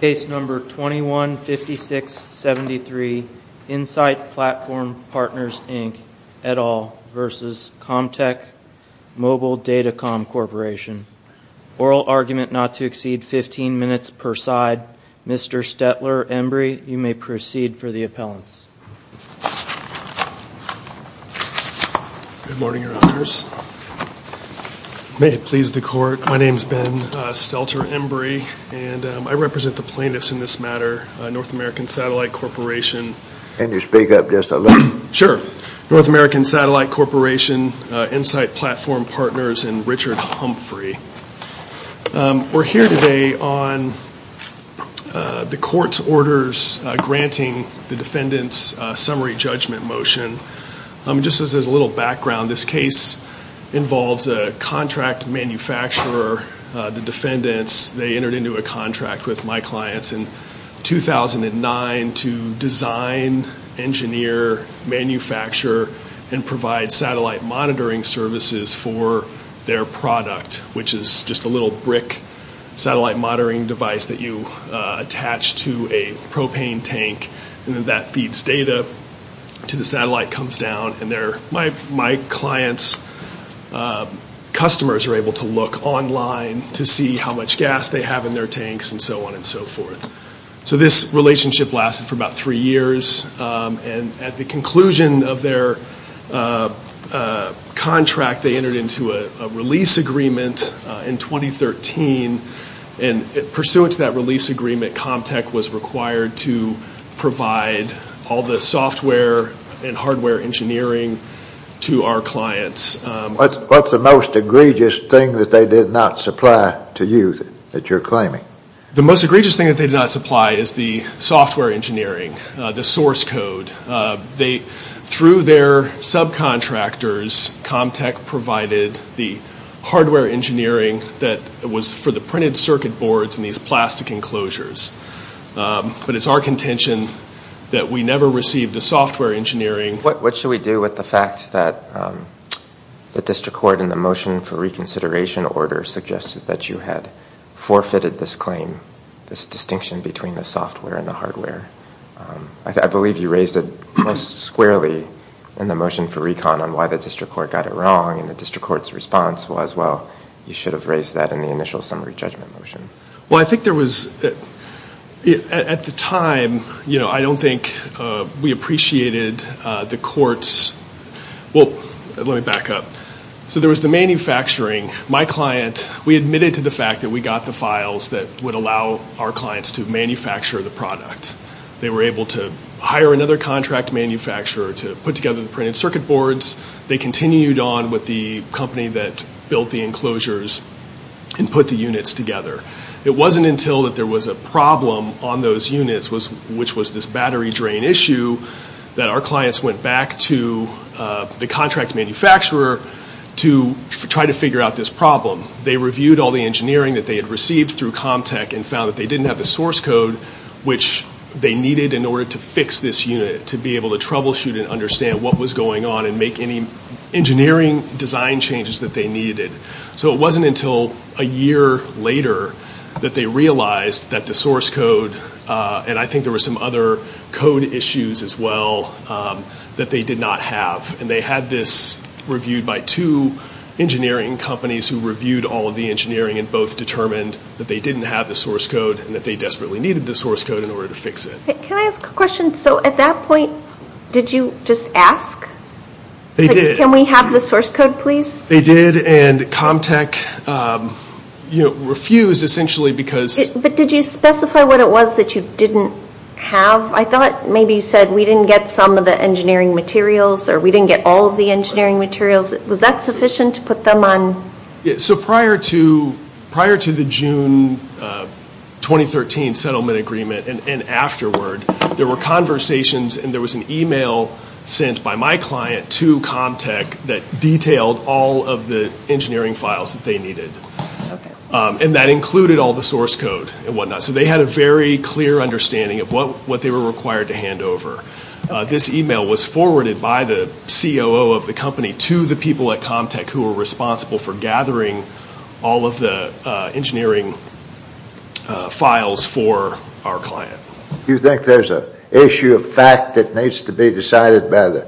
Case No. 21-5673, Insite Platform Partners Inc, et al. v. Comtech Mobile Datacom Corporation. Oral argument not to exceed 15 minutes per side. Mr. Stetler Embry, you may proceed for the appellants. Good morning, Your Honors. May it please the Court, my name is Ben Stelter Embry and I represent the plaintiffs in this matter, North American Satellite Corporation. Can you speak up just a little? Sure. North American Satellite Corporation, Insite Platform Partners, and Richard Humphrey. We're here today on the Court's orders granting the defendants summary judgment motion. Just as a little background, this case involves a contract manufacturer. The defendants, they entered into a contract with my clients in 2009 to design, engineer, manufacture, and provide satellite monitoring services for their product, which is just a little brick satellite monitoring device that you attach to a propane tank. And then that feeds data to the satellite, comes down, and my clients' customers are able to look online to see how much gas they have in their tanks, and so on and so forth. So this relationship lasted for about three years, and at the conclusion of their contract, they entered into a release agreement in 2013. And pursuant to that release agreement, Comtech was required to provide all the software and hardware engineering to our clients. What's the most egregious thing that they did not supply to you that you're claiming? The most egregious thing that they did not supply is the software engineering, the source code. Through their subcontractors, Comtech provided the hardware engineering that was for the printed circuit boards and these plastic enclosures. But it's our contention that we never received the software engineering. What should we do with the fact that the district court in the motion for reconsideration order suggested that you had forfeited this claim, this distinction between the software and the hardware? I believe you raised it most squarely in the motion for recon on why the district court got it wrong, and the district court's response was, well, you should have raised that in the initial summary judgment motion. Well, I think there was, at the time, you know, I don't think we appreciated the court's, well, let me back up. So there was the manufacturing. My client, we admitted to the fact that we got the files that would allow our clients to manufacture the product. They were able to hire another contract manufacturer to put together the printed circuit boards. They continued on with the company that built the enclosures and put the units together. It wasn't until that there was a problem on those units, which was this battery drain issue, that our clients went back to the contract manufacturer to try to figure out this problem. They reviewed all the engineering that they had received through ComTech and found that they didn't have the source code which they needed in order to fix this unit, to be able to troubleshoot and understand what was going on and make any engineering design changes that they needed. So it wasn't until a year later that they realized that the source code, and I think there were some other code issues as well, that they did not have. And they had this reviewed by two engineering companies who reviewed all of the engineering and both determined that they didn't have the source code and that they desperately needed the source code in order to fix it. Can I ask a question? So at that point, did you just ask? They did. Can we have the source code, please? They did, and ComTech, you know, refused essentially because But did you specify what it was that you didn't have? I thought maybe you said we didn't get some of the engineering materials or we didn't get all of the engineering materials. Was that sufficient to put them on? So prior to the June 2013 settlement agreement and afterward, there were conversations and there was an email sent by my client to ComTech that detailed all of the engineering files that they needed. And that included all the source code and whatnot. So they had a very clear understanding of what they were required to hand over. This email was forwarded by the COO of the company to the people at ComTech who were responsible for gathering all of the engineering files for our client. Do you think there's an issue of fact that needs to be decided by the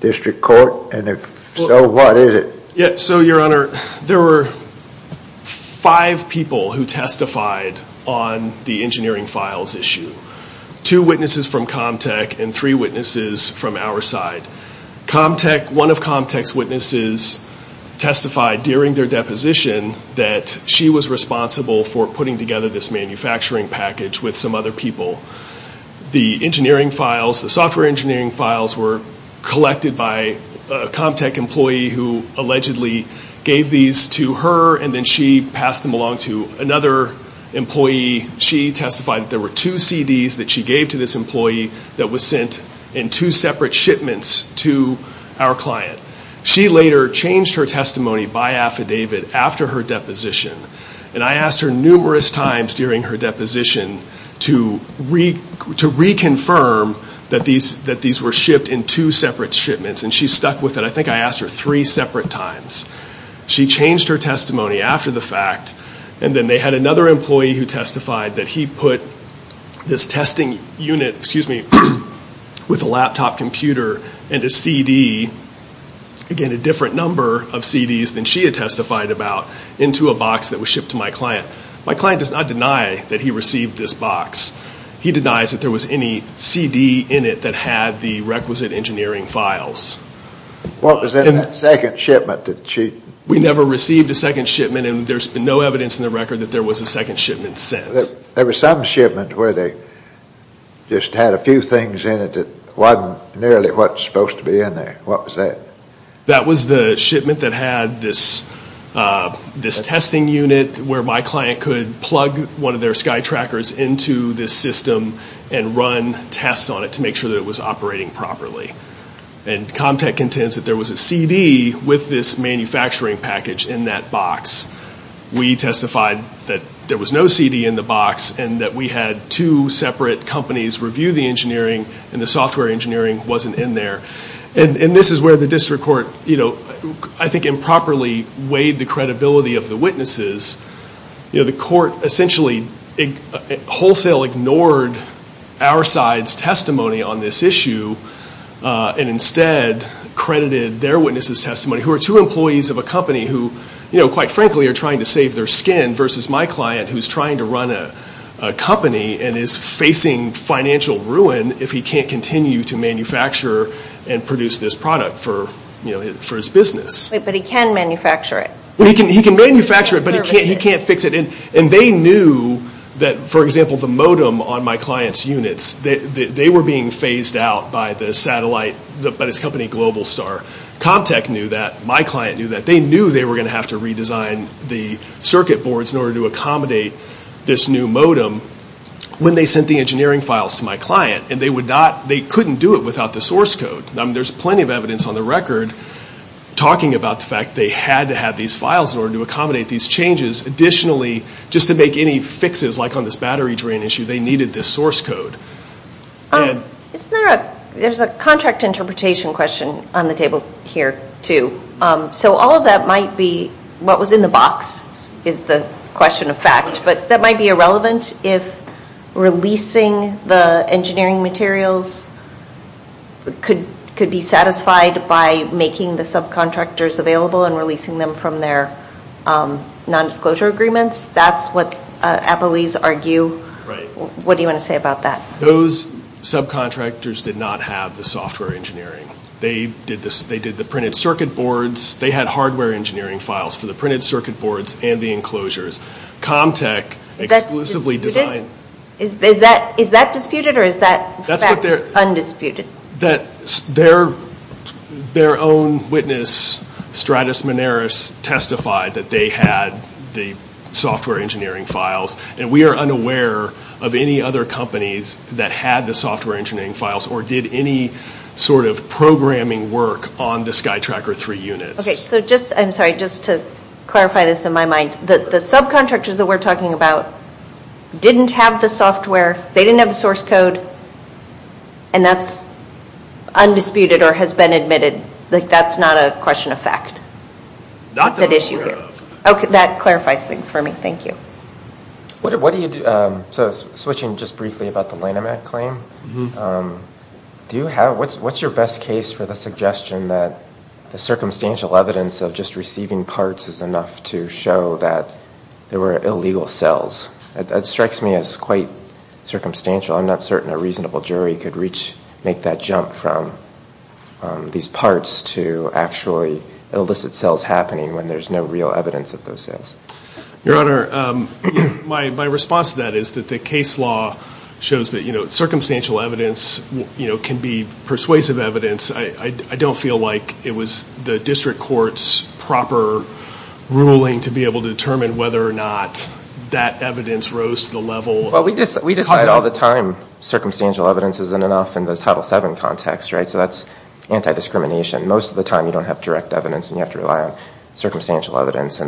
district court? And if so, what is it? So, Your Honor, there were five people who testified on the engineering files issue. Two witnesses from ComTech and three witnesses from our side. One of ComTech's witnesses testified during their deposition that she was responsible for putting together this manufacturing package with some other people. The software engineering files were collected by a ComTech employee who allegedly gave these to her and then she passed them along to another employee. She testified that there were two CDs that she gave to this employee that were sent in two separate shipments to our client. She later changed her testimony by affidavit after her deposition. And I asked her numerous times during her deposition to reconfirm that these were shipped in two separate shipments. And she stuck with it. I think I asked her three separate times. She changed her testimony after the fact. And then they had another employee who testified that he put this testing unit with a laptop computer and a CD, again a different number of CDs than she had testified about, into a box that was shipped to my client. My client does not deny that he received this box. He denies that there was any CD in it that had the requisite engineering files. What was in that second shipment? We never received a second shipment and there's no evidence in the record that there was a second shipment sent. There was some shipment where they just had a few things in it that wasn't nearly what was supposed to be in there. What was that? That was the shipment that had this testing unit where my client could plug one of their SkyTrackers into this system and run tests on it to make sure that it was operating properly. And ComTech intends that there was a CD with this manufacturing package in that box. We testified that there was no CD in the box and that we had two separate companies review the engineering and the software engineering wasn't in there. This is where the district court improperly weighed the credibility of the witnesses. The court essentially wholesale ignored our side's testimony on this issue and instead credited their witnesses' testimony, who are two employees of a company who, quite frankly, are trying to save their skin versus my client who's trying to run a company and is facing financial ruin if he can't continue to manufacture and produce this product for his business. But he can manufacture it. He can manufacture it, but he can't fix it. And they knew that, for example, the modem on my client's units, they were being phased out by the satellite, by this company GlobalStar. ComTech knew that. My client knew that. They knew they were going to have to redesign the circuit boards in order to accommodate this new modem when they sent the engineering files to my client. And they couldn't do it without the source code. There's plenty of evidence on the record talking about the fact they had to have these files in order to accommodate these changes. Additionally, just to make any fixes, like on this battery drain issue, they needed this source code. There's a contract interpretation question on the table here, too. So all of that might be what was in the box is the question of fact, but that might be irrelevant if releasing the engineering materials could be satisfied by making the subcontractors available and releasing them from their nondisclosure agreements. That's what Applees argue. What do you want to say about that? Those subcontractors did not have the software engineering. They did the printed circuit boards. They had hardware engineering files for the printed circuit boards and the enclosures. ComTech exclusively designed... Is that disputed or is that fact undisputed? Their own witness, Stratus Mineris, testified that they had the software engineering files. And we are unaware of any other companies that had the software engineering files or did any sort of programming work on the SkyTracker 3 units. I'm sorry, just to clarify this in my mind. The subcontractors that we're talking about didn't have the software. They didn't have the source code, and that's undisputed or has been admitted. That's not a question of fact. That clarifies things for me. Thank you. So switching just briefly about the Lanham Act claim, what's your best case for the suggestion that the circumstantial evidence of just receiving parts is enough to show that there were illegal sales? That strikes me as quite circumstantial. I'm not certain a reasonable jury could make that jump from these parts to actually illicit sales happening when there's no real evidence of those sales. Your Honor, my response to that is that the case law shows that circumstantial evidence can be persuasive evidence. I don't feel like it was the district court's proper ruling to be able to determine whether or not that evidence rose to the level of... We decide all the time circumstantial evidence isn't enough in the Title VII context. So that's anti-discrimination. Most of the time you don't have direct evidence and you have to rely on circumstantial evidence.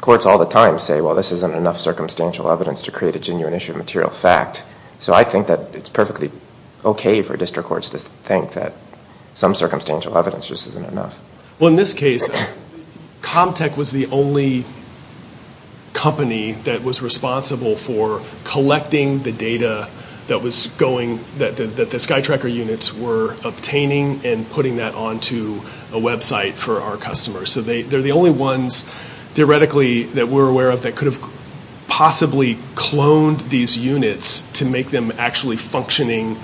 Courts all the time say, well, this isn't enough circumstantial evidence to create a genuine issue of material fact. So I think that it's perfectly okay for district courts to think that some circumstantial evidence just isn't enough. Well, in this case, ComTech was the only company that was responsible for collecting the data that the SkyTracker units were obtaining and putting that onto a website for our customers. So they're the only ones, theoretically, that we're aware of that could have possibly cloned these units to make them actually functioning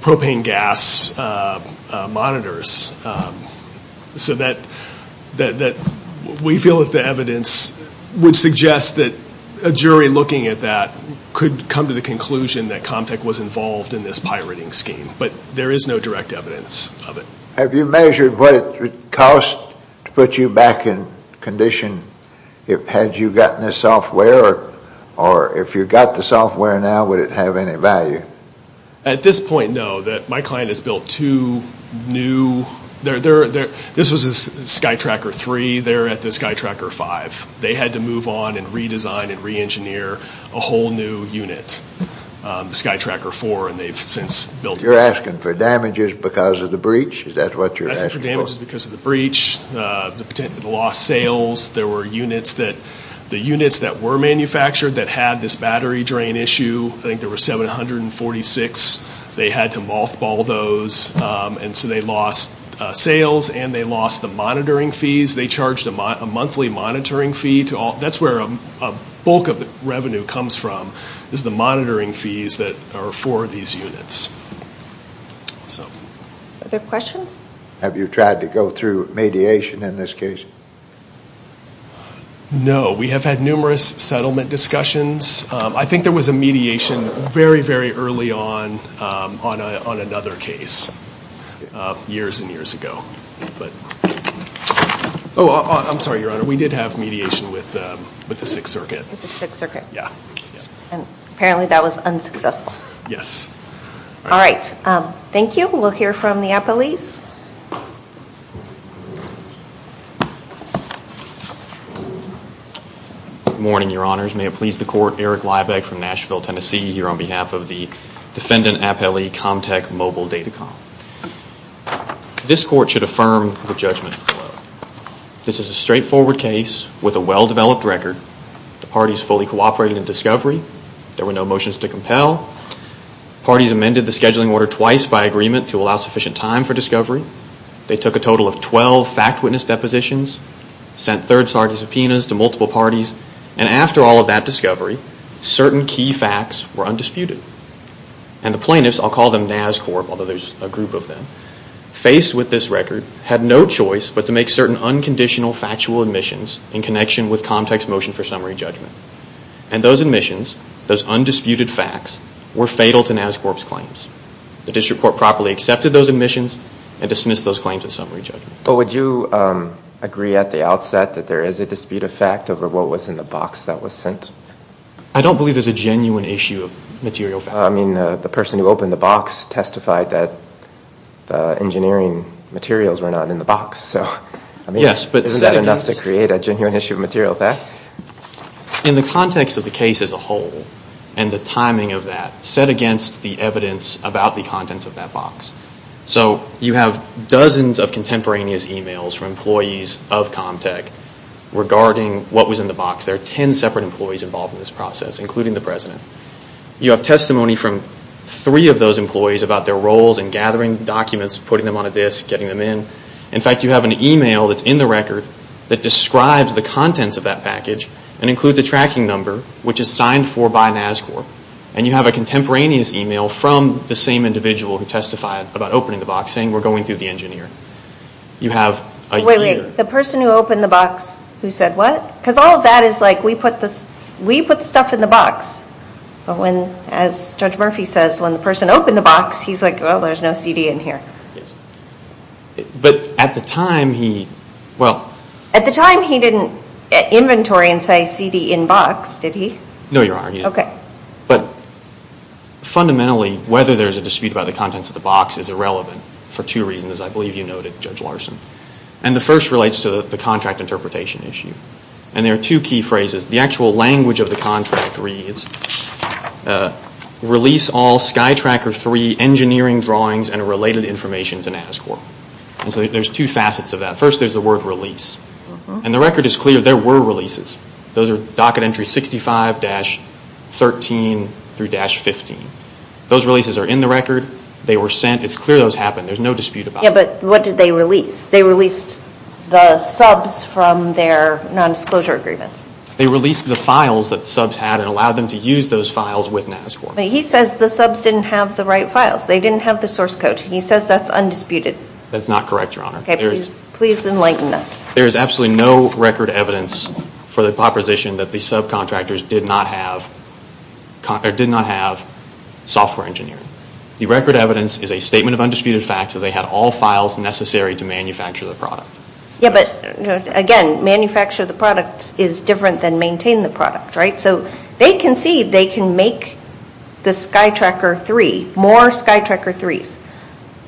propane gas monitors. So we feel that the evidence would suggest that a jury looking at that could come to the conclusion that ComTech was involved in this pirating scheme. But there is no direct evidence of it. Have you measured what it would cost to put you back in condition had you gotten the software? Or if you got the software now, would it have any value? At this point, no. My client has built two new... This was a SkyTracker 3. They're at the SkyTracker 5. They had to move on and redesign and re-engineer a whole new unit, the SkyTracker 4. And they've since built... You're asking for damages because of the breach? Is that what you're asking for? I'm asking for damages because of the breach, the lost sales. There were units that were manufactured that had this battery drain issue. I think there were 746. They had to mothball those. And so they lost sales and they lost the monitoring fees. They charged a monthly monitoring fee. That's where a bulk of the revenue comes from is the monitoring fees that are for these units. Other questions? Have you tried to go through mediation in this case? No. We have had numerous settlement discussions. I think there was a mediation very, very early on on another case years and years ago. Oh, I'm sorry, Your Honor. We did have mediation with the Sixth Circuit. With the Sixth Circuit. Yeah. And apparently that was unsuccessful. Yes. All right. Thank you. We'll hear from the appellees. Good morning, Your Honors. May it please the Court, Eric Liebeck from Nashville, Tennessee, here on behalf of the Defendant Appellee Comtech Mobile Data Com. This Court should affirm the judgment. This is a straightforward case with a well-developed record. The parties fully cooperated in discovery. There were no motions to compel. Parties amended the scheduling order twice by agreement to allow sufficient time for discovery. They took a total of 12 fact witness depositions, sent third-party subpoenas to multiple parties, and after all of that discovery, certain key facts were undisputed. And the plaintiffs, I'll call them NASCorp, although there's a group of them, faced with this record, had no choice but to make certain unconditional factual admissions in connection with Comtech's motion for summary judgment. And those admissions, those undisputed facts, were fatal to NASCorp's claims. The district court properly accepted those admissions and dismissed those claims in summary judgment. But would you agree at the outset that there is a dispute of fact over what was in the box that was sent? I don't believe there's a genuine issue of material fact. I mean, the person who opened the box testified that the engineering materials were not in the box. So, I mean, isn't that enough to create a genuine issue of material fact? In the context of the case as a whole, and the timing of that, set against the evidence about the contents of that box. So, you have dozens of contemporaneous emails from employees of Comtech regarding what was in the box. There are 10 separate employees involved in this process, including the president. You have testimony from three of those employees about their roles in gathering documents, putting them on a disk, getting them in. In fact, you have an email that's in the record that describes the contents of that package and includes a tracking number, which is signed for by NASCorp. And you have a contemporaneous email from the same individual who testified about opening the box, saying, we're going through the engineer. You have a year. Wait, wait. The person who opened the box who said what? Because all of that is like, we put the stuff in the box. But when, as Judge Murphy says, when the person opened the box, he's like, oh, there's no CD in here. But at the time, he, well. At the time, he didn't inventory and say CD in box, did he? No, Your Honor, he didn't. Okay. But fundamentally, whether there's a dispute about the contents of the box is irrelevant for two reasons, as I believe you noted, Judge Larson. And the first relates to the contract interpretation issue. And there are two key phrases. The actual language of the contract reads, release all SkyTracker 3 engineering drawings and related information to NASCorp. And so there's two facets of that. First, there's the word release. And the record is clear. There were releases. Those are docket entries 65-13 through-15. Those releases are in the record. They were sent. It's clear those happened. There's no dispute about it. Yeah, but what did they release? They released the subs from their nondisclosure agreements. They released the files that the subs had and allowed them to use those files with NASCorp. But he says the subs didn't have the right files. They didn't have the source code. He says that's undisputed. That's not correct, Your Honor. Okay, please enlighten us. There is absolutely no record evidence for the proposition that the subcontractors did not have software engineering. The record evidence is a statement of undisputed fact that they had all files necessary to manufacture the product. Yeah, but again, manufacture the product is different than maintain the product, right? So they concede they can make the SkyTracker 3, more SkyTracker 3s.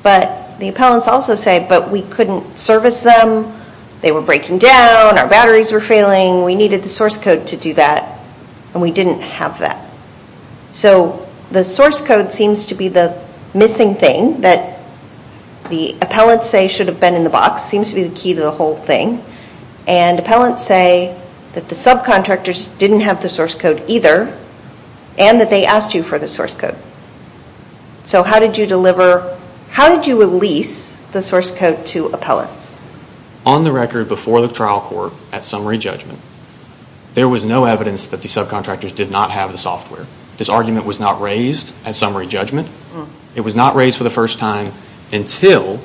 But the appellants also say, but we couldn't service them. They were breaking down. Our batteries were failing. We needed the source code to do that, and we didn't have that. So the source code seems to be the missing thing that the appellants say should have been in the box. That seems to be the key to the whole thing. And appellants say that the subcontractors didn't have the source code either and that they asked you for the source code. So how did you release the source code to appellants? On the record before the trial court at summary judgment, there was no evidence that the subcontractors did not have the software. This argument was not raised at summary judgment. It was not raised for the first time until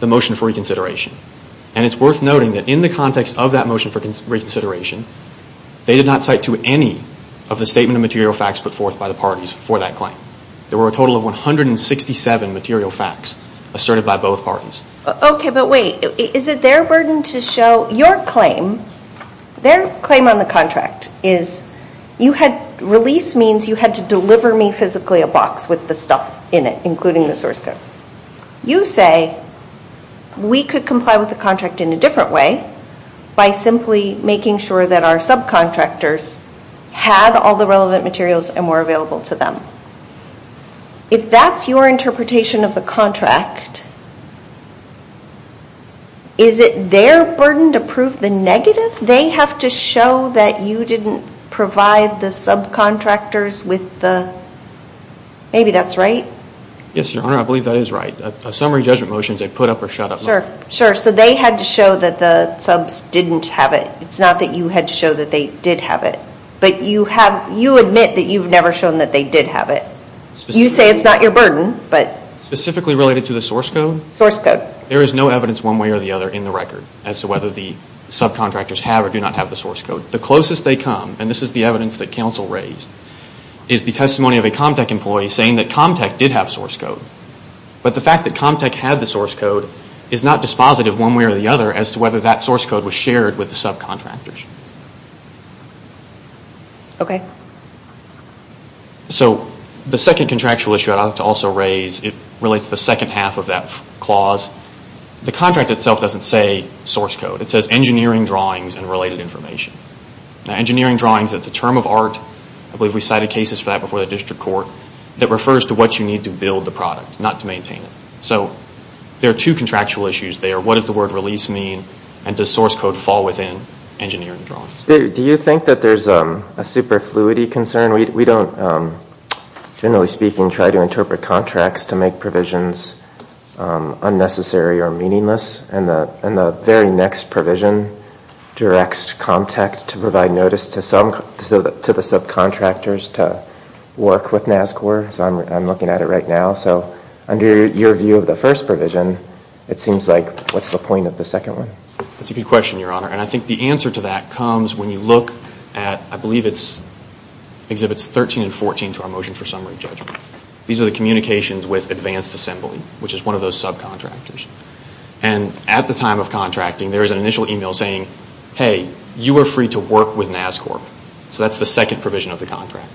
the motion for reconsideration. And it's worth noting that in the context of that motion for reconsideration, they did not cite to any of the statement of material facts put forth by the parties for that claim. There were a total of 167 material facts asserted by both parties. Okay, but wait. Is it their burden to show your claim, their claim on the contract, is you had, release means you had to deliver me physically a box with the stuff in it, including the source code. You say we could comply with the contract in a different way by simply making sure that our subcontractors had all the relevant materials and were available to them. If that's your interpretation of the contract, is it their burden to prove the negative? They have to show that you didn't provide the subcontractors with the, maybe that's right? Yes, Your Honor, I believe that is right. A summary judgment motion is a put up or shut up motion. Sure, sure. So they had to show that the subs didn't have it. It's not that you had to show that they did have it. But you have, you admit that you've never shown that they did have it. You say it's not your burden, but. Specifically related to the source code? Source code. There is no evidence one way or the other in the record as to whether the subcontractors have or do not have the source code. The closest they come, and this is the evidence that counsel raised, is the testimony of a ComTech employee saying that ComTech did have source code. But the fact that ComTech had the source code is not dispositive one way or the other as to whether that source code was shared with the subcontractors. Okay. So the second contractual issue I'd like to also raise, it relates to the second half of that clause. The contract itself doesn't say source code. It says engineering drawings and related information. Now engineering drawings, it's a term of art, I believe we cited cases for that before the district court, that refers to what you need to build the product, not to maintain it. So there are two contractual issues there. What does the word release mean? And does source code fall within engineering drawings? Do you think that there's a superfluity concern? We don't, generally speaking, try to interpret contracts to make provisions unnecessary or meaningless. And the very next provision directs ComTech to provide notice to the subcontractors to work with NASCOR. So I'm looking at it right now. So under your view of the first provision, it seems like what's the point of the second one? That's a good question, Your Honor. And I think the answer to that comes when you look at, I believe it exhibits 13 and 14 to our motion for summary judgment. These are the communications with Advanced Assembly, which is one of those subcontractors. And at the time of contracting, there is an initial email saying, hey, you are free to work with NASCOR. So that's the second provision of the contract.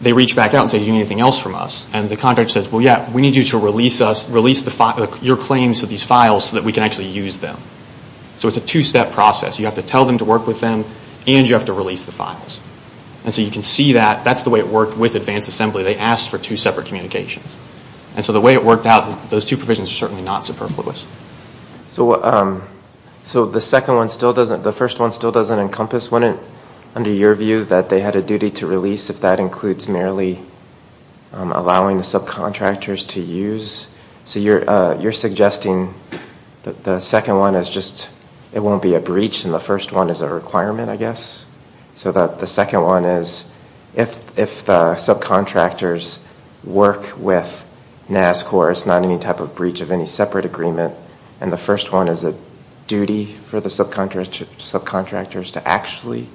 They reach back out and say, do you need anything else from us? And the contract says, well, yeah, we need you to release your claims to these files so that we can actually use them. So it's a two-step process. You have to tell them to work with them and you have to release the files. And so you can see that that's the way it worked with Advanced Assembly. They asked for two separate communications. And so the way it worked out, those two provisions are certainly not superfluous. So the second one still doesn't, the first one still doesn't encompass, wouldn't, under your view, that they had a duty to release if that includes merely allowing the subcontractors to use? So you're suggesting that the second one is just, it won't be a breach and the first one is a requirement, I guess? So the second one is, if the subcontractors work with NASCOR, it's not any type of breach of any separate agreement, and the first one is a duty for the subcontractors to actually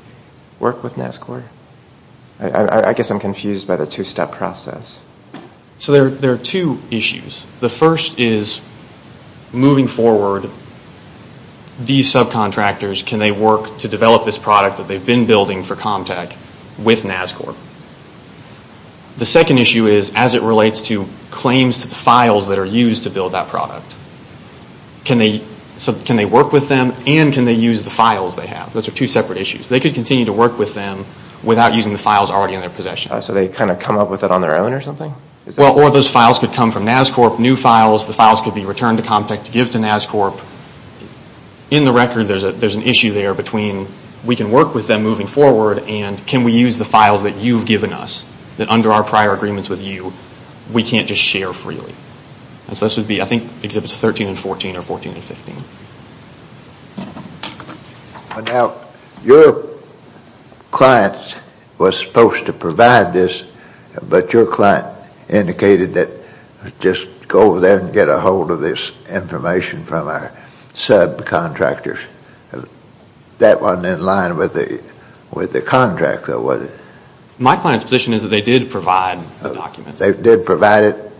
work with NASCOR? I guess I'm confused by the two-step process. So there are two issues. The first is, moving forward, these subcontractors, can they work to develop this product that they've been building for ComTech with NASCOR? The second issue is, as it relates to claims to the files that are used to build that product, can they work with them and can they use the files they have? Those are two separate issues. They could continue to work with them without using the files already in their possession. So they kind of come up with it on their own or something? Well, or those files could come from NASCOR, new files, the files could be returned to ComTech to give to NASCOR. In the record, there's an issue there between we can work with them moving forward and can we use the files that you've given us, that under our prior agreements with you, we can't just share freely. And so this would be, I think, Exhibits 13 and 14 or 14 and 15. Now, your client was supposed to provide this, but your client indicated that just go over there and get a hold of this information from our subcontractors. That wasn't in line with the contract, though, was it? My client's position is that they did provide the documents. They did provide it?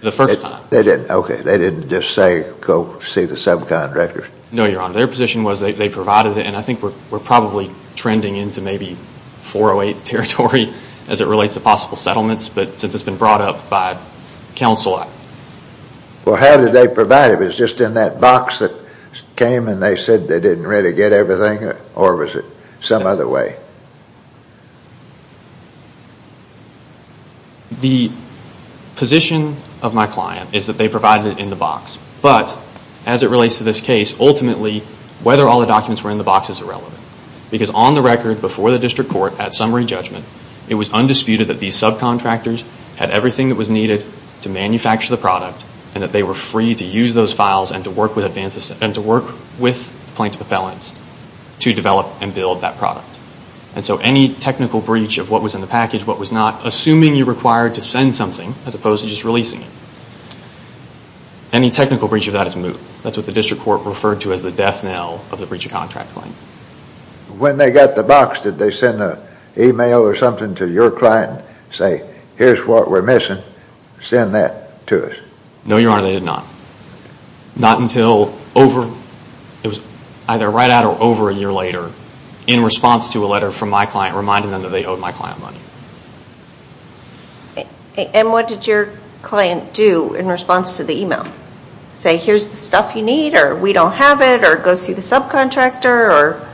The first time. They didn't? Okay. They didn't just say go see the subcontractors? No, Your Honor. Their position was they provided it, and I think we're probably trending into maybe 408 territory as it relates to possible settlements, but since it's been brought up by Council Act. Well, how did they provide it? Was it just in that box that came and they said they didn't really get everything, or was it some other way? The position of my client is that they provided it in the box, but as it relates to this case, ultimately whether all the documents were in the box is irrelevant, because on the record before the district court at summary judgment, it was undisputed that these subcontractors had everything that was needed to manufacture the product and that they were free to use those files and to work with plaintiff appellants to develop and build that product. And so any technical breach of what was in the package, what was not, assuming you're required to send something as opposed to just releasing it, any technical breach of that is moot. That's what the district court referred to as the death knell of the breach of contract claim. When they got the box, did they send an email or something to your client and say, here's what we're missing, send that to us? No, Your Honor, they did not. Not until over, it was either right out or over a year later, in response to a letter from my client reminding them that they owed my client money. And what did your client do in response to the email? Say, here's the stuff you need, or we don't have it, or go see the subcontractor, or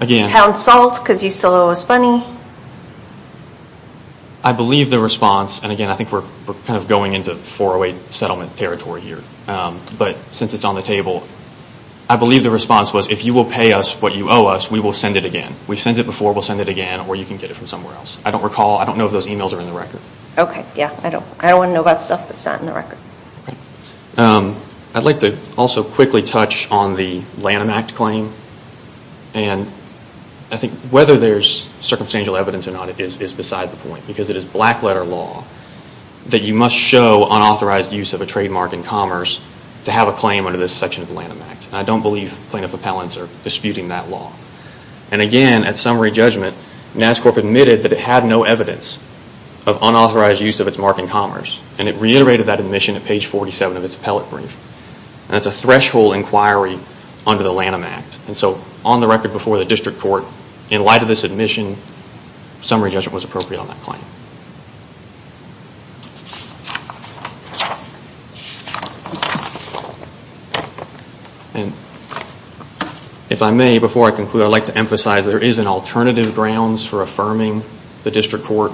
pound salt because you still owe us money? I believe the response, and again, I think we're kind of going into 408 settlement territory here, but since it's on the table, I believe the response was, if you will pay us what you owe us, we will send it again. We've sent it before, we'll send it again, or you can get it from somewhere else. I don't recall, I don't know if those emails are in the record. Okay, yeah, I don't want to know about stuff that's not in the record. I'd like to also quickly touch on the Lanham Act claim, and I think whether there's circumstantial evidence or not is beside the point, because it is black letter law that you must show unauthorized use of a trademark in commerce to have a claim under this section of the Lanham Act, and I don't believe plaintiff appellants are disputing that law. And again, at summary judgment, NASCorp admitted that it had no evidence of unauthorized use of its mark in commerce, and it reiterated that admission at page 47 of its appellate brief. That's a threshold inquiry under the Lanham Act, and so on the record before the district court, in light of this admission, summary judgment was appropriate on that claim. And if I may, before I conclude, I'd like to emphasize there is an alternative grounds for affirming the district court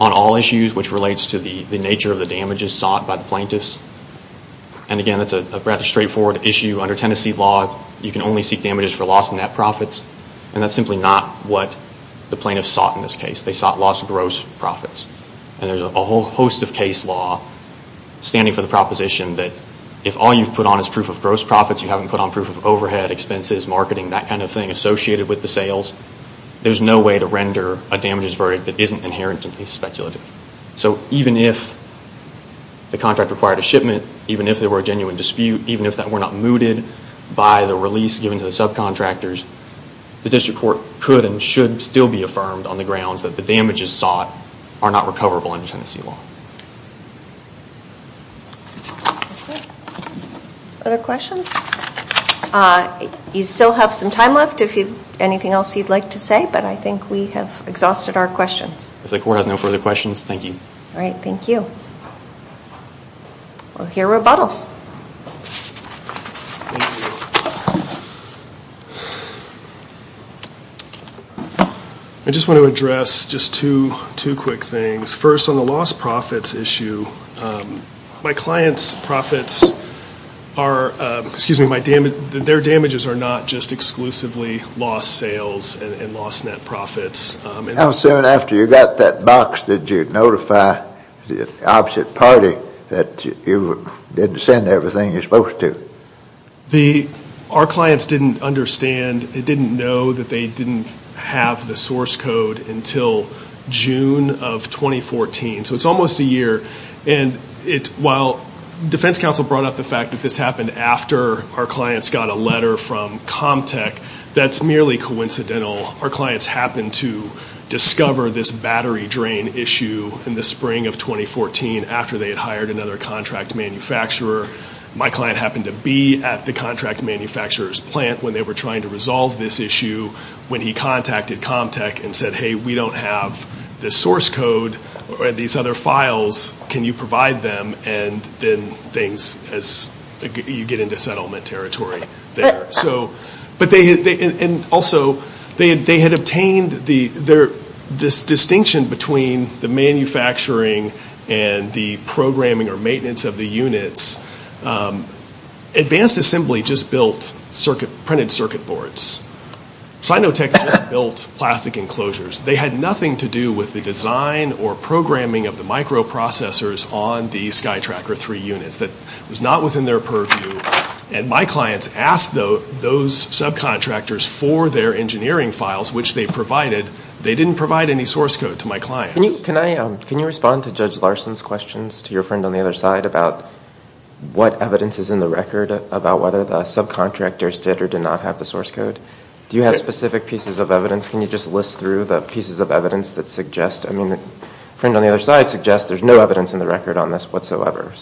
on all issues which relates to the nature of the damages sought by the plaintiffs. And again, that's a rather straightforward issue. Under Tennessee law, you can only seek damages for loss of net profits, and that's simply not what the plaintiffs sought in this case. They sought loss of gross property. And there's a whole host of case law standing for the proposition that if all you've put on is proof of gross profits, you haven't put on proof of overhead, expenses, marketing, that kind of thing associated with the sales, there's no way to render a damages verdict that isn't inherently speculative. So even if the contract required a shipment, even if there were a genuine dispute, even if that were not mooted by the release given to the subcontractors, the district court could and should still be affirmed on the grounds that the damages sought are not recoverable under Tennessee law. Other questions? You still have some time left if you have anything else you'd like to say, but I think we have exhausted our questions. If the court has no further questions, thank you. All right, thank you. We'll hear rebuttal. Thank you. I just want to address just two quick things. First, on the lost profits issue, my client's profits are, excuse me, their damages are not just exclusively lost sales and lost net profits. How soon after you got that box did you notify the opposite party that you didn't send everything you're supposed to? Our clients didn't understand, they didn't know that they didn't have the source code until June of 2014. So it's almost a year. And while defense counsel brought up the fact that this happened after our clients got a letter from Comtech, that's merely coincidental. Our clients happened to discover this battery drain issue in the spring of 2014 after they had hired another contract manufacturer. My client happened to be at the contract manufacturer's plant when they were trying to resolve this issue when he contacted Comtech and said, hey, we don't have the source code or these other files. Can you provide them? And then things, you get into settlement territory there. And also they had obtained this distinction between the manufacturing and the programming or maintenance of the units. Advanced Assembly just built printed circuit boards. Sinotech just built plastic enclosures. They had nothing to do with the design or programming of the microprocessors on the SkyTracker 3 units. That was not within their purview. And my clients asked those subcontractors for their engineering files, which they provided. They didn't provide any source code to my clients. Can you respond to Judge Larson's questions to your friend on the other side about what evidence is in the record about whether the subcontractors did or did not have the source code? Do you have specific pieces of evidence? Can you just list through the pieces of evidence that suggest, I mean a friend on the other side suggests there's no evidence in the record on this whatsoever.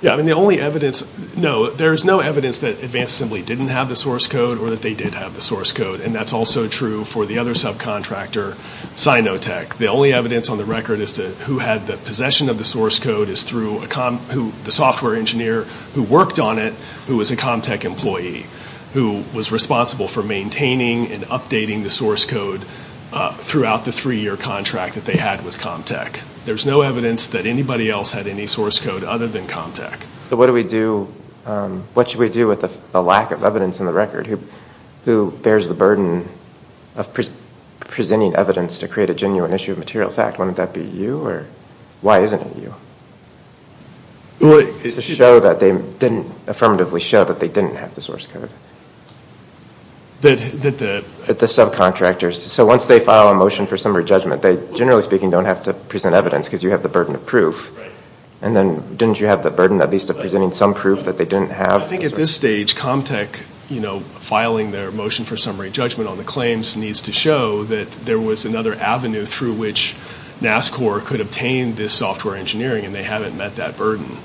Yeah, I mean the only evidence, no. There's no evidence that Advanced Assembly didn't have the source code or that they did have the source code. And that's also true for the other subcontractor, Sinotech. The only evidence on the record as to who had the possession of the source code is through the software engineer who worked on it who was a ComTech employee who was responsible for maintaining and updating the source code throughout the three-year contract that they had with ComTech. There's no evidence that anybody else had any source code other than ComTech. So what should we do with the lack of evidence in the record? Who bears the burden of presenting evidence to create a genuine issue of material fact? Wouldn't that be you? Or why isn't it you? To affirmatively show that they didn't have the source code. The subcontractors. So once they file a motion for summary judgment, they generally speaking don't have to present evidence because you have the burden of proof. And then didn't you have the burden at least of presenting some proof that they didn't have? I think at this stage ComTech filing their motion for summary judgment on the claims needs to show that there was another avenue through which NASCOR could obtain this software engineering and they haven't met that burden.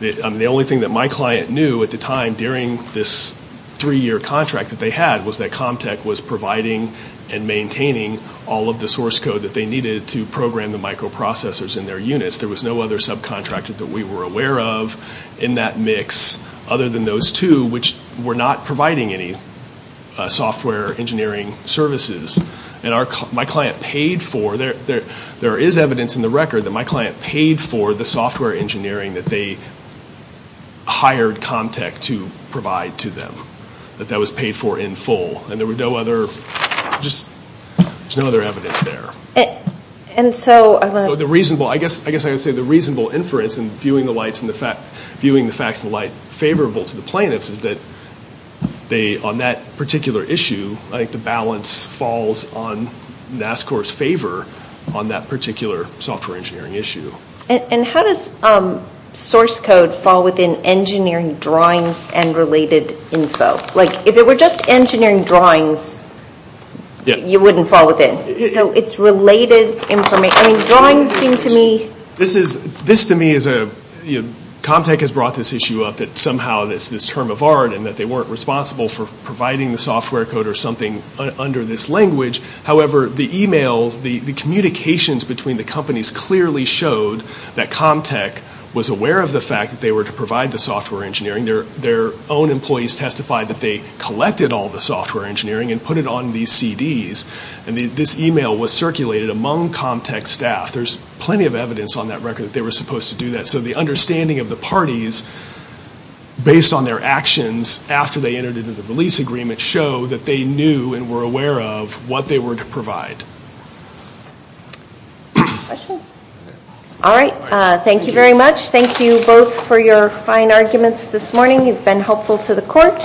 The only thing that my client knew at the time during this three-year contract that they had was that ComTech was providing and maintaining all of the source code that they needed to program the microprocessors in their units. There was no other subcontractor that we were aware of in that mix other than those two which were not providing any software engineering services. And my client paid for, there is evidence in the record that my client paid for the software engineering that they hired ComTech to provide to them. That that was paid for in full. And there was no other evidence there. So I guess I would say the reasonable inference in viewing the facts in light favorable to the plaintiffs is that on that particular issue, I think the balance falls on NASCOR's favor on that particular software engineering issue. And how does source code fall within engineering drawings and related info? Like if it were just engineering drawings, you wouldn't fall within. So it's related information. Drawings seem to me... This to me is a... ComTech has brought this issue up that somehow it's this term of art and that they weren't responsible for providing the software code or something under this language. However, the emails, the communications between the companies clearly showed that ComTech was aware of the fact that they were to provide the software engineering. Their own employees testified that they collected all the software engineering and put it on these CDs. And this email was circulated among ComTech staff. There's plenty of evidence on that record that they were supposed to do that. So the understanding of the parties based on their actions after they entered into the release agreement did show that they knew and were aware of what they were to provide. Questions? All right. Thank you very much. Thank you both for your fine arguments this morning. You've been helpful to the court.